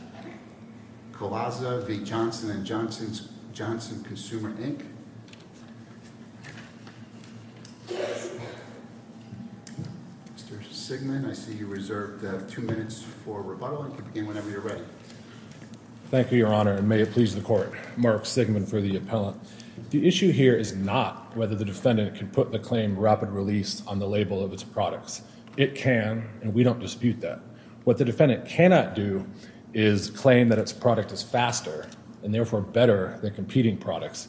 Mr. Sigmund, I see you reserved two minutes for rebuttal, and you can begin whenever you're ready. Thank you, Your Honor, and may it please the Court, Mark Sigmund for the appellant. The issue here is not whether the defendant can put the claim rapid release on the label of its products. It can, and we don't dispute that. What the defendant cannot do is claim that its product is faster, and therefore better than competing products,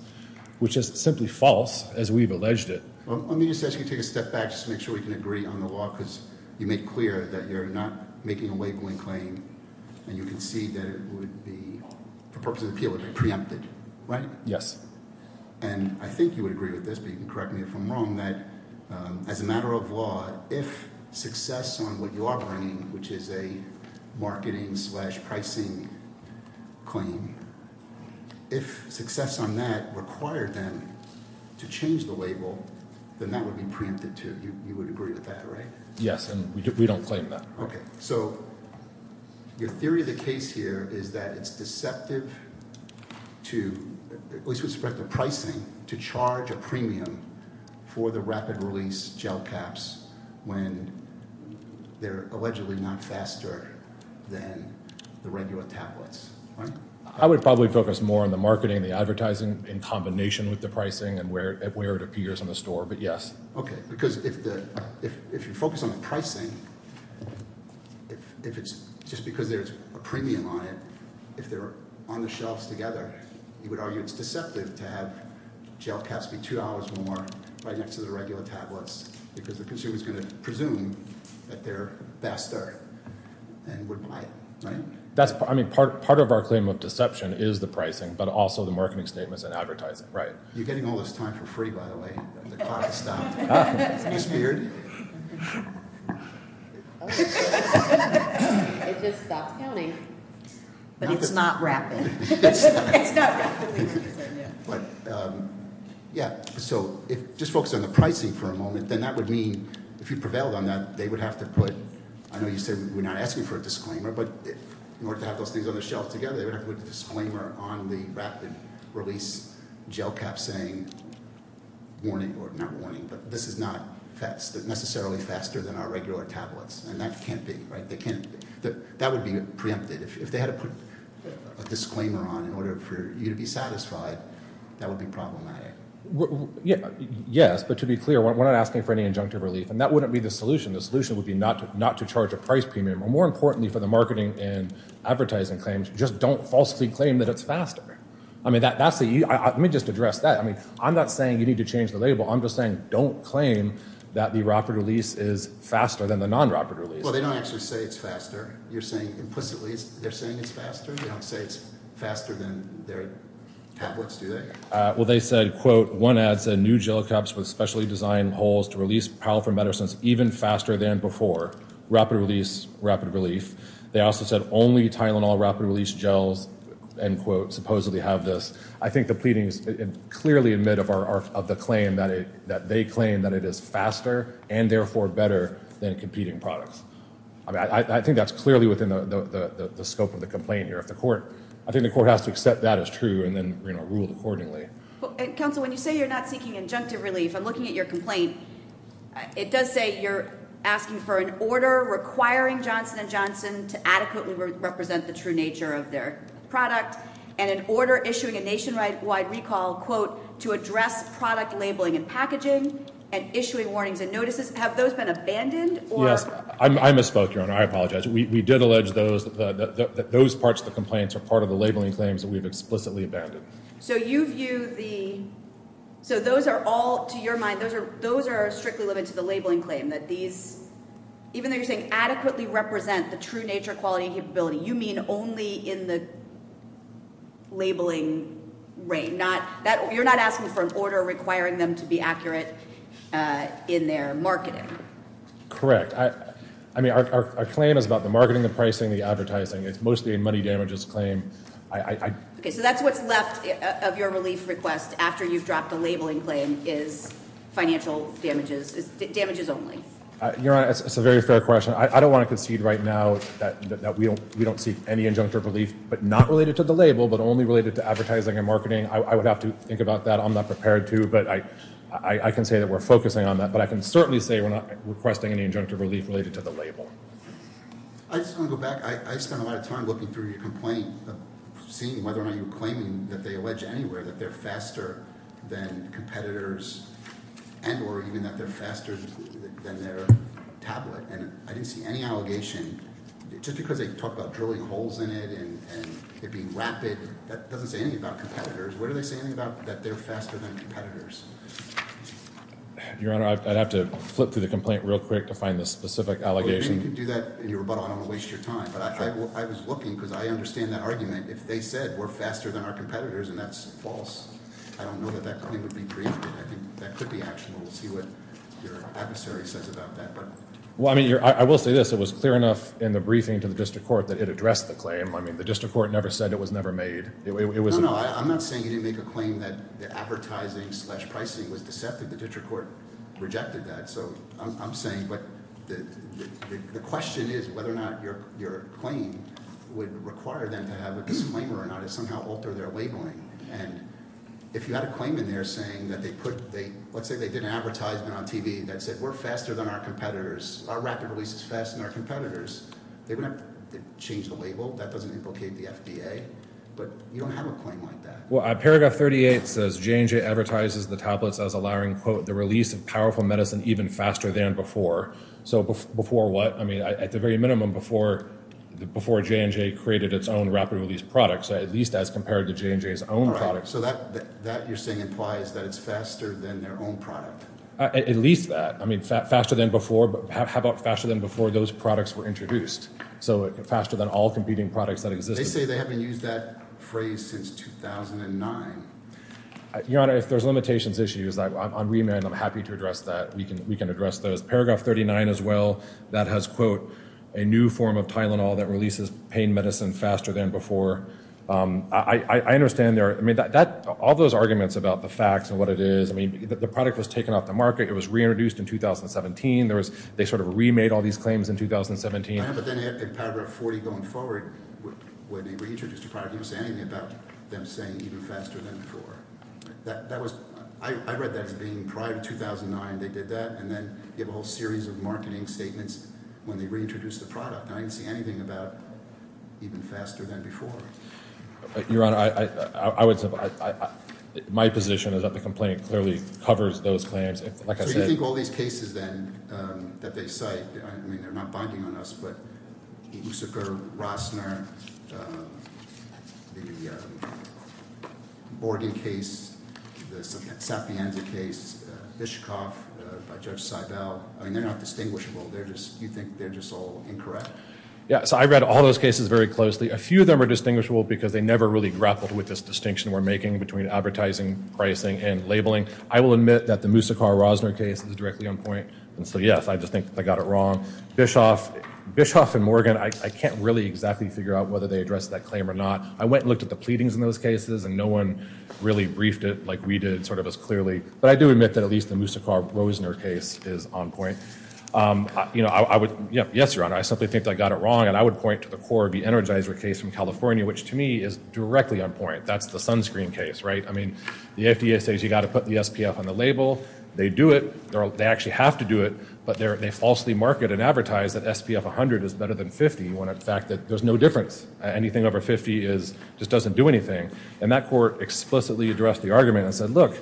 which is simply false, as we've alleged it. Let me just ask you to take a step back just to make sure we can agree on the law, because you make clear that you're not making a labeling claim, and you concede that it would be, for purposes of appeal, it would be preempted, right? Yes. And I think you would agree with this, but you can correct me if I'm wrong, that as a marketing-slash-pricing claim, if success on that required them to change the label, then that would be preempted, too. You would agree with that, right? Yes, and we don't claim that. Okay. So your theory of the case here is that it's deceptive to, at least with respect to pricing, to charge a premium for the rapid-release gel caps when they're allegedly not faster than the regular tablets, right? I would probably focus more on the marketing and the advertising in combination with the pricing and where it appears in the store, but yes. Okay, because if you focus on the pricing, if it's just because there's a premium on it, if they're on the shelves together, you would argue it's deceptive to have gel caps be two hours more right next to the regular tablets, because the consumer is going to presume that they're faster and would buy it, right? I mean, part of our claim of deception is the pricing, but also the marketing statements and advertising, right. You're getting all this time for free, by the way. The clock has stopped. Miss Beard? It just stopped counting. But it's not rapid. It's not. It's not rapidly decreasing, yeah. Yeah, so just focus on the pricing for a moment, then that would mean, if you prevailed on that, they would have to put, I know you said we're not asking for a disclaimer, but in order to have those things on the shelf together, they would have to put a disclaimer on the rapid-release gel caps saying, warning, or not warning, but this is not necessarily faster than our regular tablets, and that can't be, right? That would be preempted. If they had to put a disclaimer on in order for you to be satisfied, that would be problematic. Yes, but to be clear, we're not asking for any injunctive relief, and that wouldn't be the solution. The solution would be not to charge a price premium, or more importantly for the marketing and advertising claims, just don't falsely claim that it's faster. I mean, that's the, let me just address that. I mean, I'm not saying you need to change the label. I'm just saying don't claim that the rapid-release is faster than the non-rapid-release. Well, they don't actually say it's faster. You're saying implicitly they're saying it's faster? They don't say it's faster than their tablets, do they? Well, they said, quote, one ad said, new gel caps with specially designed holes to release powerful medicines even faster than before. Rapid-release, rapid relief. They also said only Tylenol rapid-release gels, end quote, supposedly have this. I think the pleadings clearly admit of the claim that they claim that it is faster and therefore better than competing products. I think that's clearly within the scope of the complaint here. I think the court has to accept that as true and then rule accordingly. Counsel, when you say you're not seeking injunctive relief, I'm looking at your complaint. It does say you're asking for an order requiring Johnson & Johnson to adequately represent the true nature of their product and an order issuing a nationwide recall, quote, to address product labeling and packaging and issuing warnings and notices. Have those been abandoned? I misspoke, Your Honor. I apologize. We did allege that those parts of the complaints are part of the labeling claims that we've explicitly abandoned. So you view the, so those are all, to your mind, those are strictly limited to the labeling claim, that these, even though you're saying adequately represent the true nature, quality, and capability, you mean only in the labeling reign? You're not asking for an order requiring them to be accurate in their marketing? Correct. I mean, our claim is about the marketing, the pricing, the advertising. It's mostly a money damages claim. Okay, so that's what's left of your relief request after you've dropped the labeling claim is financial damages, damages only. Your Honor, it's a very fair question. I don't want to concede right now that we don't seek any injunctive relief, but not I would have to think about that. I'm not prepared to, but I can say that we're focusing on that. But I can certainly say we're not requesting any injunctive relief related to the label. I just want to go back. I spent a lot of time looking through your complaint, seeing whether or not you were claiming that they allege anywhere that they're faster than competitors and or even that they're faster than their tablet. And I didn't see any allegation, just because they talk about drilling holes in it and it doesn't say anything about competitors. What are they saying about that they're faster than competitors? Your Honor, I'd have to flip through the complaint real quick to find the specific allegation. Well, if you can do that in your rebuttal, I don't want to waste your time. But I was looking because I understand that argument. If they said we're faster than our competitors and that's false, I don't know that that claim would be briefed. And I think that could be actionable. We'll see what your adversary says about that. Well, I mean, I will say this. It was clear enough in the briefing to the district court that it addressed the claim. I mean, the district court never said it was never made. No, no, I'm not saying you didn't make a claim that the advertising slash pricing was deceptive. The district court rejected that. So I'm saying the question is whether or not your claim would require them to have a disclaimer or not to somehow alter their labeling. And if you had a claim in there saying that they put, let's say they did an advertisement on TV that said we're faster than our competitors, our rapid release is faster than our competitors, they would have to change the label. That doesn't implicate the FDA. But you don't have a claim like that. Well, paragraph 38 says J&J advertises the tablets as allowing, quote, the release of powerful medicine even faster than before. So before what? I mean, at the very minimum, before J&J created its own rapid release products, at least as compared to J&J's own products. So that you're saying implies that it's faster than their own product. At least that. I mean, faster than before. How about faster than before those products were introduced? So faster than all competing products that existed. They say they haven't used that phrase since 2009. Your Honor, if there's limitations issues, I'm remanded. I'm happy to address that. We can address those. Paragraph 39 as well, that has, quote, a new form of Tylenol that releases pain medicine faster than before. I understand there are, I mean, all those arguments about the facts and what it is, I mean, the product was taken off the market. It was reintroduced in 2017. They sort of remade all these claims in 2017. I know, but then in paragraph 40 going forward, when they reintroduced the product, you didn't say anything about them saying even faster than before. That was, I read that as being prior to 2009, they did that. And then you have a whole series of marketing statements when they reintroduced the product. And I didn't see anything about even faster than before. Your Honor, I would, my position is that the complaint clearly covers those claims. So you think all these cases then that they cite, I mean, they're not binding on us, but the Moussaka-Rossner, the Morgan case, the Sapienza case, Hitchcock by Judge Seibel, I mean, they're not distinguishable. They're just, you think they're just all incorrect? Yeah, so I read all those cases very closely. A few of them are distinguishable because they never really grappled with this distinction we're making between advertising, pricing, and labeling. I will admit that the Moussaka-Rossner case is directly on point. And so, yes, I just think that they got it wrong. Bischoff and Morgan, I can't really exactly figure out whether they addressed that claim or not. I went and looked at the pleadings in those cases, and no one really briefed it like we did, sort of as clearly, but I do admit that at least the Moussaka-Rossner case is on point. You know, I would, yes, Your Honor, I simply think they got it wrong. And I would point to the Cora B. Energizer case from California, which to me is directly on point. That's the sunscreen case, right? I mean, the FDA says you've got to put the SPF on the label. They do it. They actually have to do it. But they falsely market and advertise that SPF 100 is better than 50 when in fact there's no difference. Anything over 50 just doesn't do anything. And that court explicitly addressed the argument and said, look,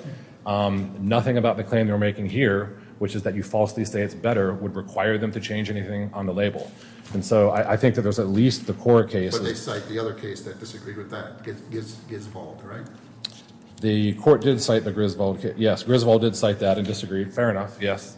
nothing about the claim they're making here, which is that you falsely say it's better, would require them to change anything on the label. And so I think that there's at least the Cora case. But they cite the other case that disagreed with that, Griswold, right? The court did cite the Griswold case. Yes, Griswold did cite that and disagreed. Fair enough, yes.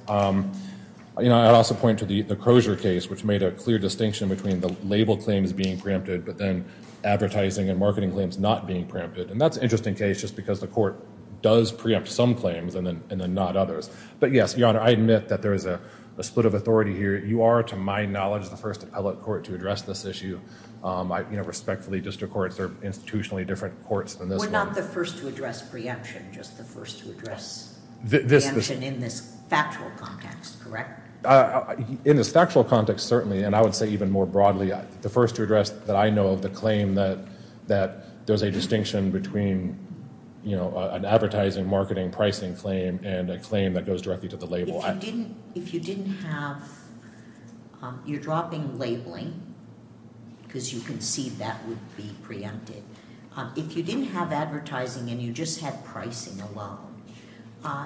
You know, I'd also point to the Crozier case, which made a clear distinction between the label claims being preempted, but then advertising and marketing claims not being preempted. And that's an interesting case just because the court does preempt some claims and then not others. But yes, Your Honor, I admit that there is a split of authority here. You are, to my knowledge, the first appellate court to address this issue. You know, respectfully, district courts are institutionally different courts than this one. We're not the first to address preemption, just the first to address preemption in this factual context, correct? In this factual context, certainly, and I would say even more broadly, the first to address that I know of the claim that there's a distinction between, you know, an advertising, marketing, pricing claim and a claim that goes directly to the label. If you didn't have, you're dropping labeling, because you can see that would be preempted. If you didn't have advertising and you just had pricing alone,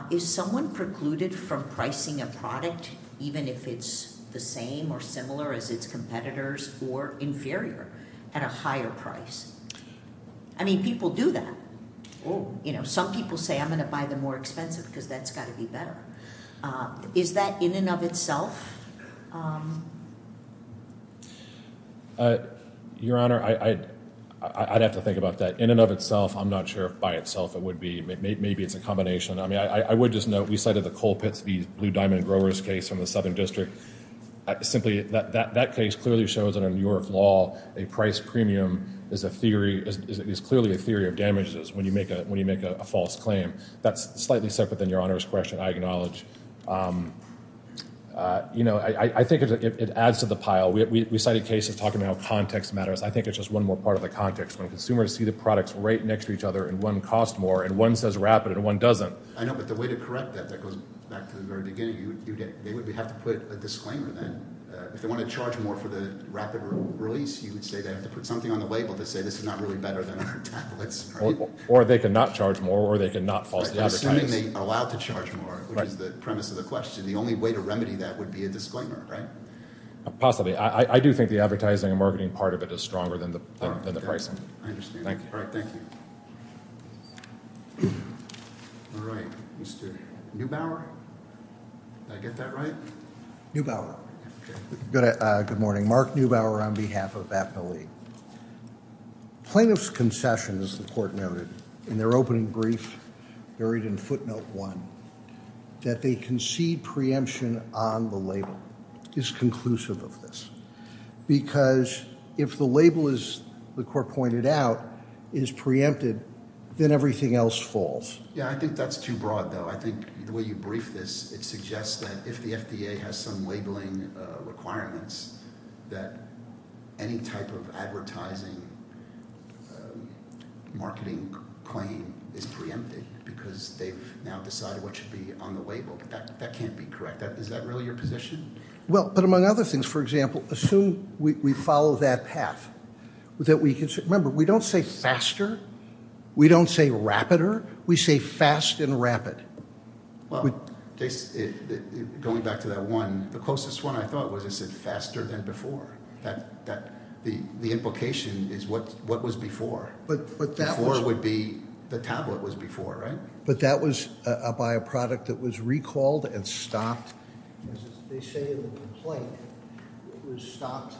is someone precluded from pricing a product, even if it's the same or similar as its competitors, or inferior at a higher price? I mean, people do that. You know, some people say, I'm going to buy the more expensive because that's got to be better. Is that in and of itself? Your Honor, I'd have to think about that. In and of itself, I'm not sure if by itself it would be. Maybe it's a combination. I mean, I would just note, we cited the Colpitts v. Blue Diamond Growers case from the Southern District. Simply, that case clearly shows that in New York law, a price premium is a theory, is clearly a theory of damages when you make a false claim. That's slightly separate than Your Honor's question, I acknowledge. You know, I think it adds to the pile. We cited cases talking about how context matters. I think it's just one more part of the context. When consumers see the products right next to each other, and one costs more, and one says rapid, and one doesn't. I know, but the way to correct that, that goes back to the very beginning, they would have to put a disclaimer then. If they want to charge more for the rapid release, you would say they have to put something on the label to say this is not really better than other tablets. Or they could not charge more, or they could not falsely advertise. Assuming they are allowed to charge more, which is the premise of the question, the only way to remedy that would be a disclaimer, right? Possibly. I do think the advertising and marketing part of it is stronger than the pricing. I understand. All right, thank you. All right, Mr. Neubauer? Did I get that right? Neubauer. Good morning. Mark Neubauer on behalf of Appellee. Plaintiff's concession, as the court noted in their opening brief, buried in footnote one, that they concede preemption on the label is conclusive of this. Because if the label, as the court pointed out, is preempted, then everything else falls. Yeah, I think that's too broad, though. I think the way you brief this, it suggests that if the FDA has some labeling requirements, that any type of advertising marketing claim is preempted, because they've now decided what should be on the label. That can't be correct. Is that really your position? Well, but among other things, for example, assume we follow that path. Remember, we don't say faster, we don't say rapider, we say fast and rapid. Well, going back to that one, the closest one I thought was it said faster than before. The implication is what was before. Before would be the tablet was before, right? But that was by a product that was recalled and stopped, as they say in the complaint, was stopped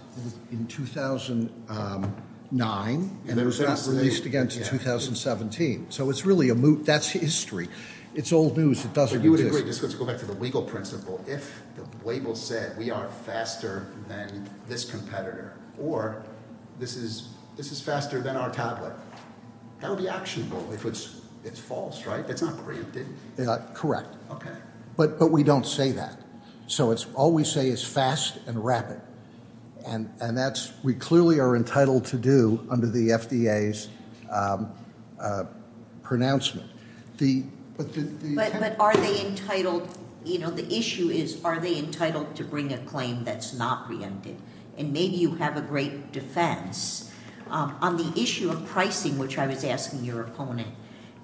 in 2009 and released again in 2017. So it's really a moot, that's history. It's old news, it doesn't exist. But you would agree, just let's go back to the legal principle, if the label said we are faster than this competitor, or this is faster than our tablet, that would be actionable, if it's false, right? It's not preempted. Correct. Okay. But we don't say that. So all we say is fast and rapid. And that's, we clearly are entitled to do, under the FDA's pronouncement. But are they entitled, the issue is, are they entitled to bring a claim that's not preempted? And maybe you have a great defense. On the issue of pricing, which I was asking your opponent,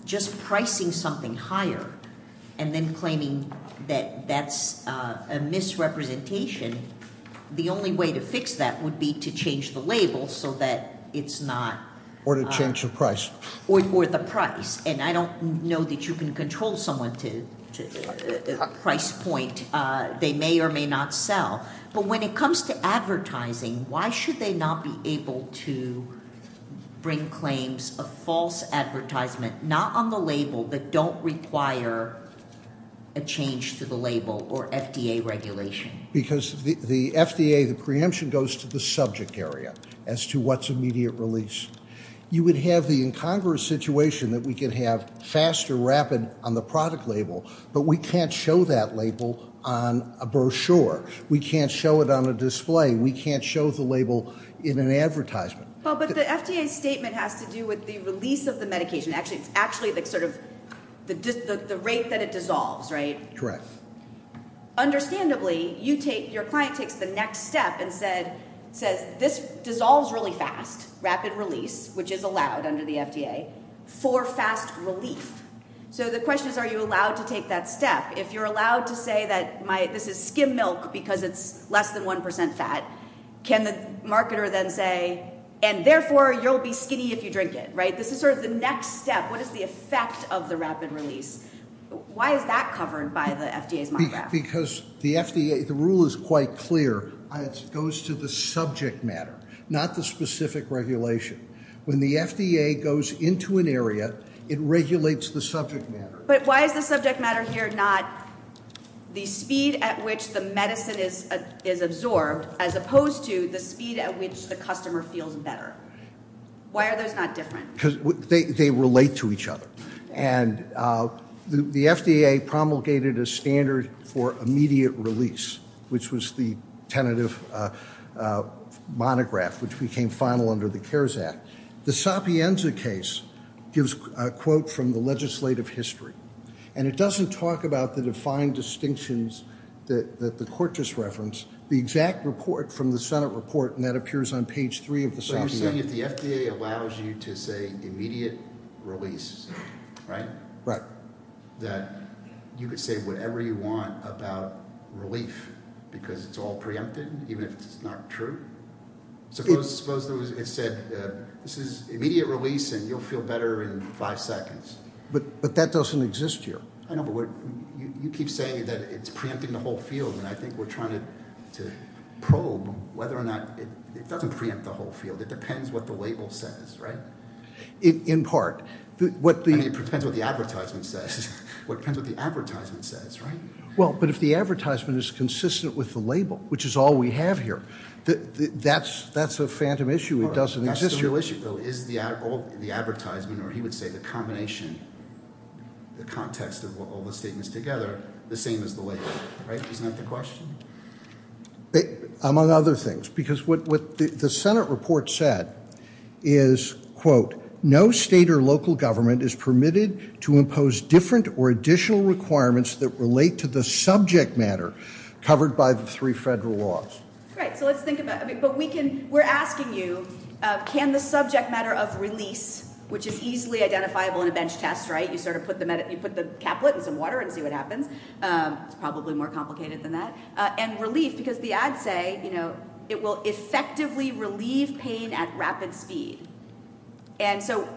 just pricing something higher and then claiming that that's a misrepresentation, the only way to fix that would be to change the label so that it's not- Or to change the price. Or the price. And I don't know that you can control someone to price point, they may or may not sell. But when it comes to advertising, why should they not be able to bring claims of false advertisement, not on the label, that don't require a change to the label or FDA regulation? Because the FDA, the preemption goes to the subject area, as to what's immediate release. You would have the incongruous situation that we could have fast or rapid on the product label, but we can't show that label on a brochure. We can't show it on a display. We can't show the label in an advertisement. But the FDA's statement has to do with the release of the medication. It's actually sort of the rate that it dissolves, right? Correct. Understandably, your client takes the next step and says, this dissolves really fast, rapid release, which is allowed under the FDA, for fast relief. So the question is, are you allowed to take that step? If you're allowed to say that this is skim milk because it's less than 1% fat, can the marketer then say, and therefore you'll be skinny if you drink it, right? This is sort of the next step. What is the effect of the rapid release? Why is that covered by the FDA's monograph? Because the FDA, the rule is quite clear. It goes to the subject matter, not the specific regulation. When the FDA goes into an area, it regulates the subject matter. But why is the subject matter here not the speed at which the medicine is absorbed, as opposed to the speed at which the customer feels better? Why are those not different? Because they relate to each other. And the FDA promulgated a standard for immediate release, which was the tentative monograph, which became final under the CARES Act. The Sapienza case gives a quote from the legislative history. And it doesn't talk about the defined distinctions that the court just referenced. The exact report from the Senate report, and that appears on page three of the Sapienza. So you're saying if the FDA allows you to say immediate release, right? Right. That you could say whatever you want about relief, because it's all preempted, even if it's not true? Suppose it said, this is immediate release, and you'll feel better in five seconds. But that doesn't exist here. I know, but you keep saying that it's preempting the whole field. And I think we're trying to probe whether or not it doesn't preempt the whole field. It depends what the label says, right? In part. It depends what the advertisement says. It depends what the advertisement says, right? Well, but if the advertisement is consistent with the label, which is all we have here, that's a phantom issue. It doesn't exist here. That's the real issue, though. Is the advertisement, or he would say the combination, the context of all the statements together, the same as the label? Right? Isn't that the question? Among other things. Because what the Senate report said is, quote, no state or local government is permitted to impose different or additional requirements that relate to the subject matter covered by the three federal laws. Right. So let's think about it. But we're asking you, can the subject matter of release, which is easily identifiable in a bench test, right? You sort of put the caplet in some water and see what happens. It's probably more complicated than that. And relief, because the ads say, you know, it will effectively relieve pain at rapid speed. And so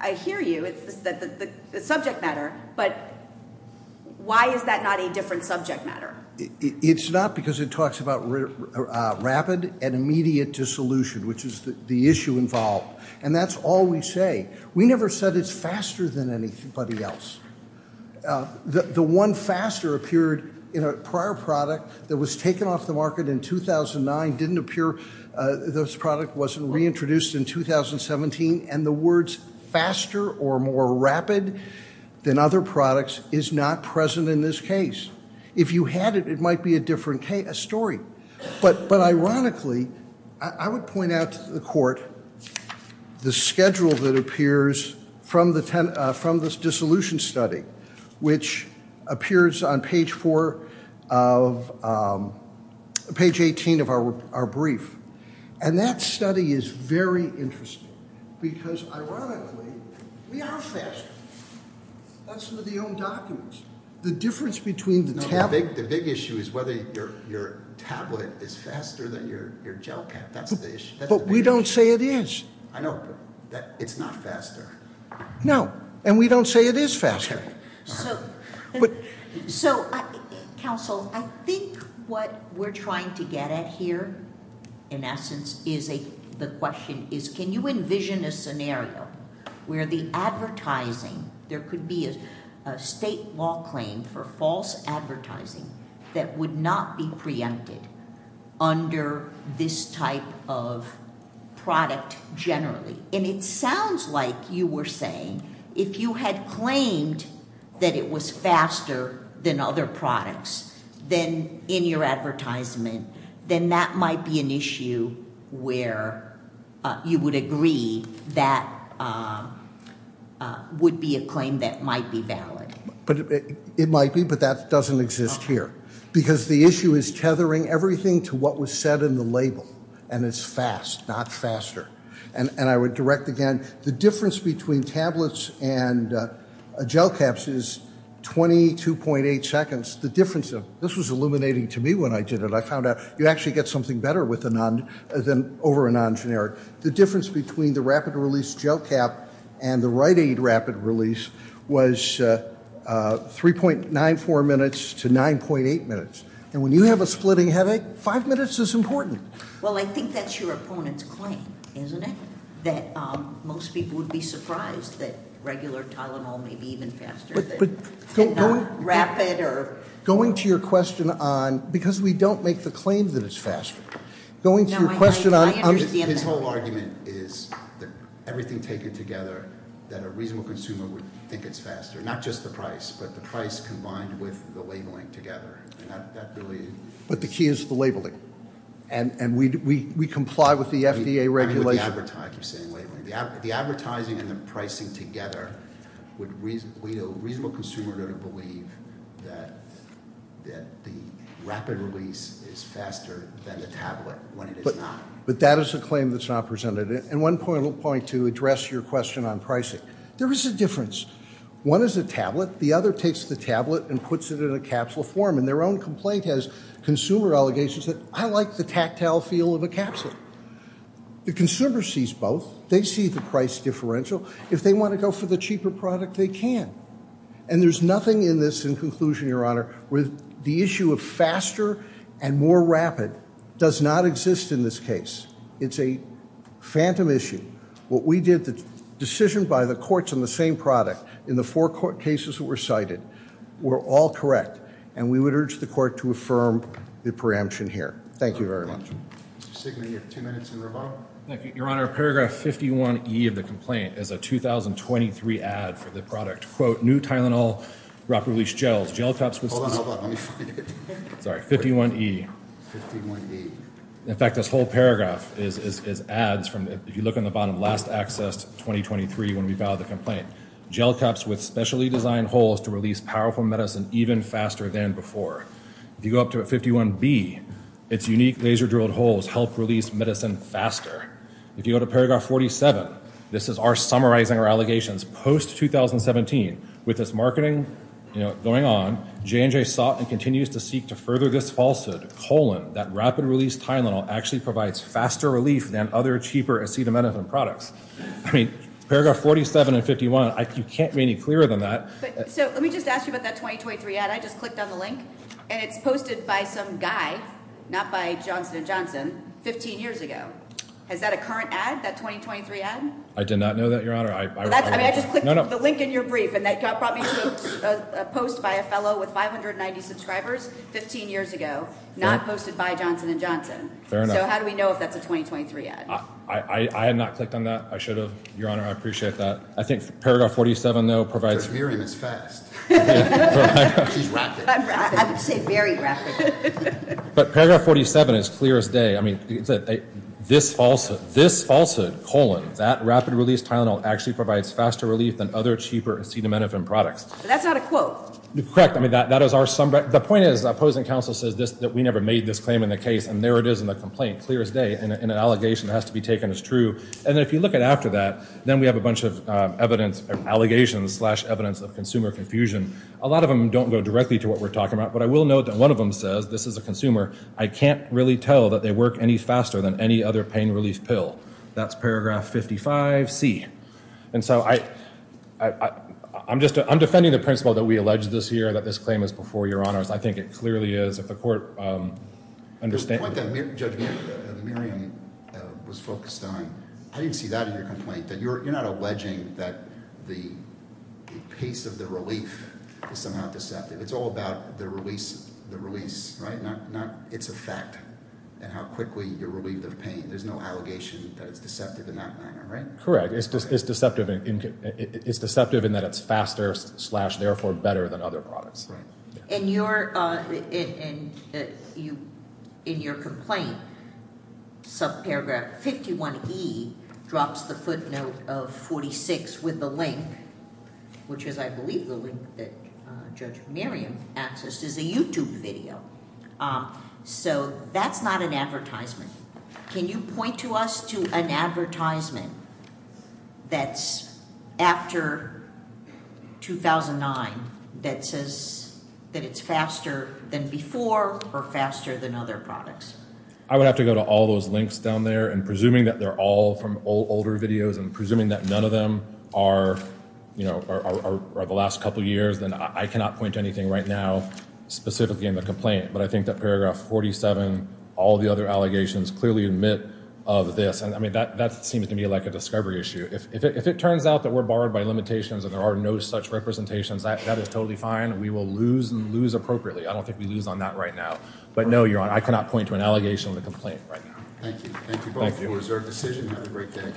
I hear you. It's the subject matter. But why is that not a different subject matter? It's not because it talks about rapid and immediate dissolution, which is the issue involved. And that's all we say. We never said it's faster than anybody else. The one faster appeared in a prior product that was taken off the market in 2009. Didn't appear. This product wasn't reintroduced in 2017. And the words faster or more rapid than other products is not present in this case. If you had it, it might be a different story. But ironically, I would point out to the court the schedule that appears from the dissolution study, which appears on page 18 of our brief. And that study is very interesting. Because ironically, we are faster. That's with the own documents. The difference between the tablet. The big issue is whether your tablet is faster than your gel pen. But we don't say it is. I know. But it's not faster. No. And we don't say it is faster. So, counsel, I think what we're trying to get at here, in essence, is the question is, can you envision a scenario where the advertising, there could be a state law claim for false advertising that would not be preempted under this type of product generally. And it sounds like you were saying, if you had claimed that it was faster than other products, then in your advertisement, then that might be an issue where you would agree that would be a claim that might be valid. It might be, but that doesn't exist here. Because the issue is tethering everything to what was said in the label. And it's fast, not faster. And I would direct again, the difference between tablets and gel caps is 22.8 seconds. This was illuminating to me when I did it. I found out you actually get something better over a non-generic. The difference between the rapid release gel cap and the Rite Aid rapid release was 3.94 minutes to 9.8 minutes. And when you have a splitting headache, five minutes is important. Well, I think that's your opponent's claim, isn't it? That most people would be surprised that regular Tylenol may be even faster than rapid or- Going to your question on, because we don't make the claim that it's faster. Going to your question on- No, I understand that. His whole argument is that everything taken together, that a reasonable consumer would think it's faster. Not just the price, but the price combined with the labeling together. And that really- But the key is the labeling. And we comply with the FDA regulation. The advertising and the pricing together would lead a reasonable consumer to believe that the rapid release is faster than the tablet when it is not. But that is a claim that's not presented. And one point to address your question on pricing. There is a difference. One is a tablet. The other takes the tablet and puts it in a capsule form. And their own complaint has consumer allegations that I like the tactile feel of a capsule. The consumer sees both. They see the price differential. If they want to go for the cheaper product, they can. And there's nothing in this in conclusion, your honor, with the issue of faster and more rapid does not exist in this case. It's a phantom issue. What we did, the decision by the courts on the same product in the four court cases that were cited were all correct. And we would urge the court to affirm the preemption here. Thank you very much. Mr. Signer, you have two minutes in rebuttal. Your honor, paragraph 51E of the complaint is a 2023 ad for the product. Quote, new Tylenol rapid release gels, gel cups with- Hold on, hold on, let me find it. Sorry, 51E. 51E. In fact, this whole paragraph is ads from, if you look on the bottom, last accessed 2023 when we filed the complaint. Gel cups with specially designed holes to release powerful medicine even faster than before. If you go up to 51B, it's unique laser drilled holes help release medicine faster. If you go to paragraph 47, this is our summarizing our allegations. Post-2017, with this marketing going on, J&J sought and continues to seek to further this falsehood, colon, that rapid release Tylenol actually provides faster relief than other cheaper acetaminophen products. I mean, paragraph 47 and 51, you can't be any clearer than that. So let me just ask you about that 2023 ad. I just clicked on the link, and it's posted by some guy, not by Johnson & Johnson, 15 years ago. Is that a current ad, that 2023 ad? I did not know that, your honor. I just clicked the link in your brief, and that probably was a post by a fellow with 590 subscribers 15 years ago, not posted by Johnson & Johnson. So how do we know if that's a 2023 ad? I had not clicked on that. I should have. Your honor, I appreciate that. I think paragraph 47, though, provides- Judge Miriam is fast. She's rapid. I would say very rapid. But paragraph 47 is clear as day. I mean, this falsehood, this falsehood, colon, that rapid release Tylenol actually provides faster relief than other cheaper acetaminophen products. That's not a quote. Correct. I mean, that is our- The point is, the opposing counsel says that we never made this claim in the case, and there it is in the complaint. Clear as day. And an allegation has to be taken as true. And if you look at after that, then we have a bunch of evidence, allegations, slash evidence of consumer confusion. A lot of them don't go directly to what we're talking about, but I will note that one of them says, this is a consumer, I can't really tell that they work any faster than any other pain relief pill. That's paragraph 55C. And so I'm just- I'm defending the principle that we alleged this here, that this claim is before your honors. I think it clearly is. If the court understands- The point that Judge Miriam was focused on, I didn't see that in your complaint. That you're not alleging that the pace of the relief is somehow deceptive. It's all about the release, right? Not its effect and how quickly you're relieved of pain. There's no allegation that it's deceptive in that manner, right? Correct. It's deceptive in that it's faster, slash, therefore better than other products. In your complaint, subparagraph 51E, drops the footnote of 46 with the link, which is, I believe, the link that Judge Miriam accessed, is a YouTube video. So that's not an advertisement. Can you point to us to an advertisement that's after 2009, that says that it's faster than before, or faster than other products? I would have to go to all those links down there, and presuming that they're all from older videos, and presuming that none of them are the last couple years, then I cannot point to anything right now, specifically in the complaint. But I think that paragraph 47, all the other allegations, clearly admit of this. That seems to me like a discovery issue. If it turns out that we're barred by limitations, and there are no such representations, that is totally fine. We will lose appropriately. I don't think we lose on that right now. But no, Your Honor, I cannot point to an allegation in the complaint right now. Thank you. Thank you both for a reserved decision. Have a great day.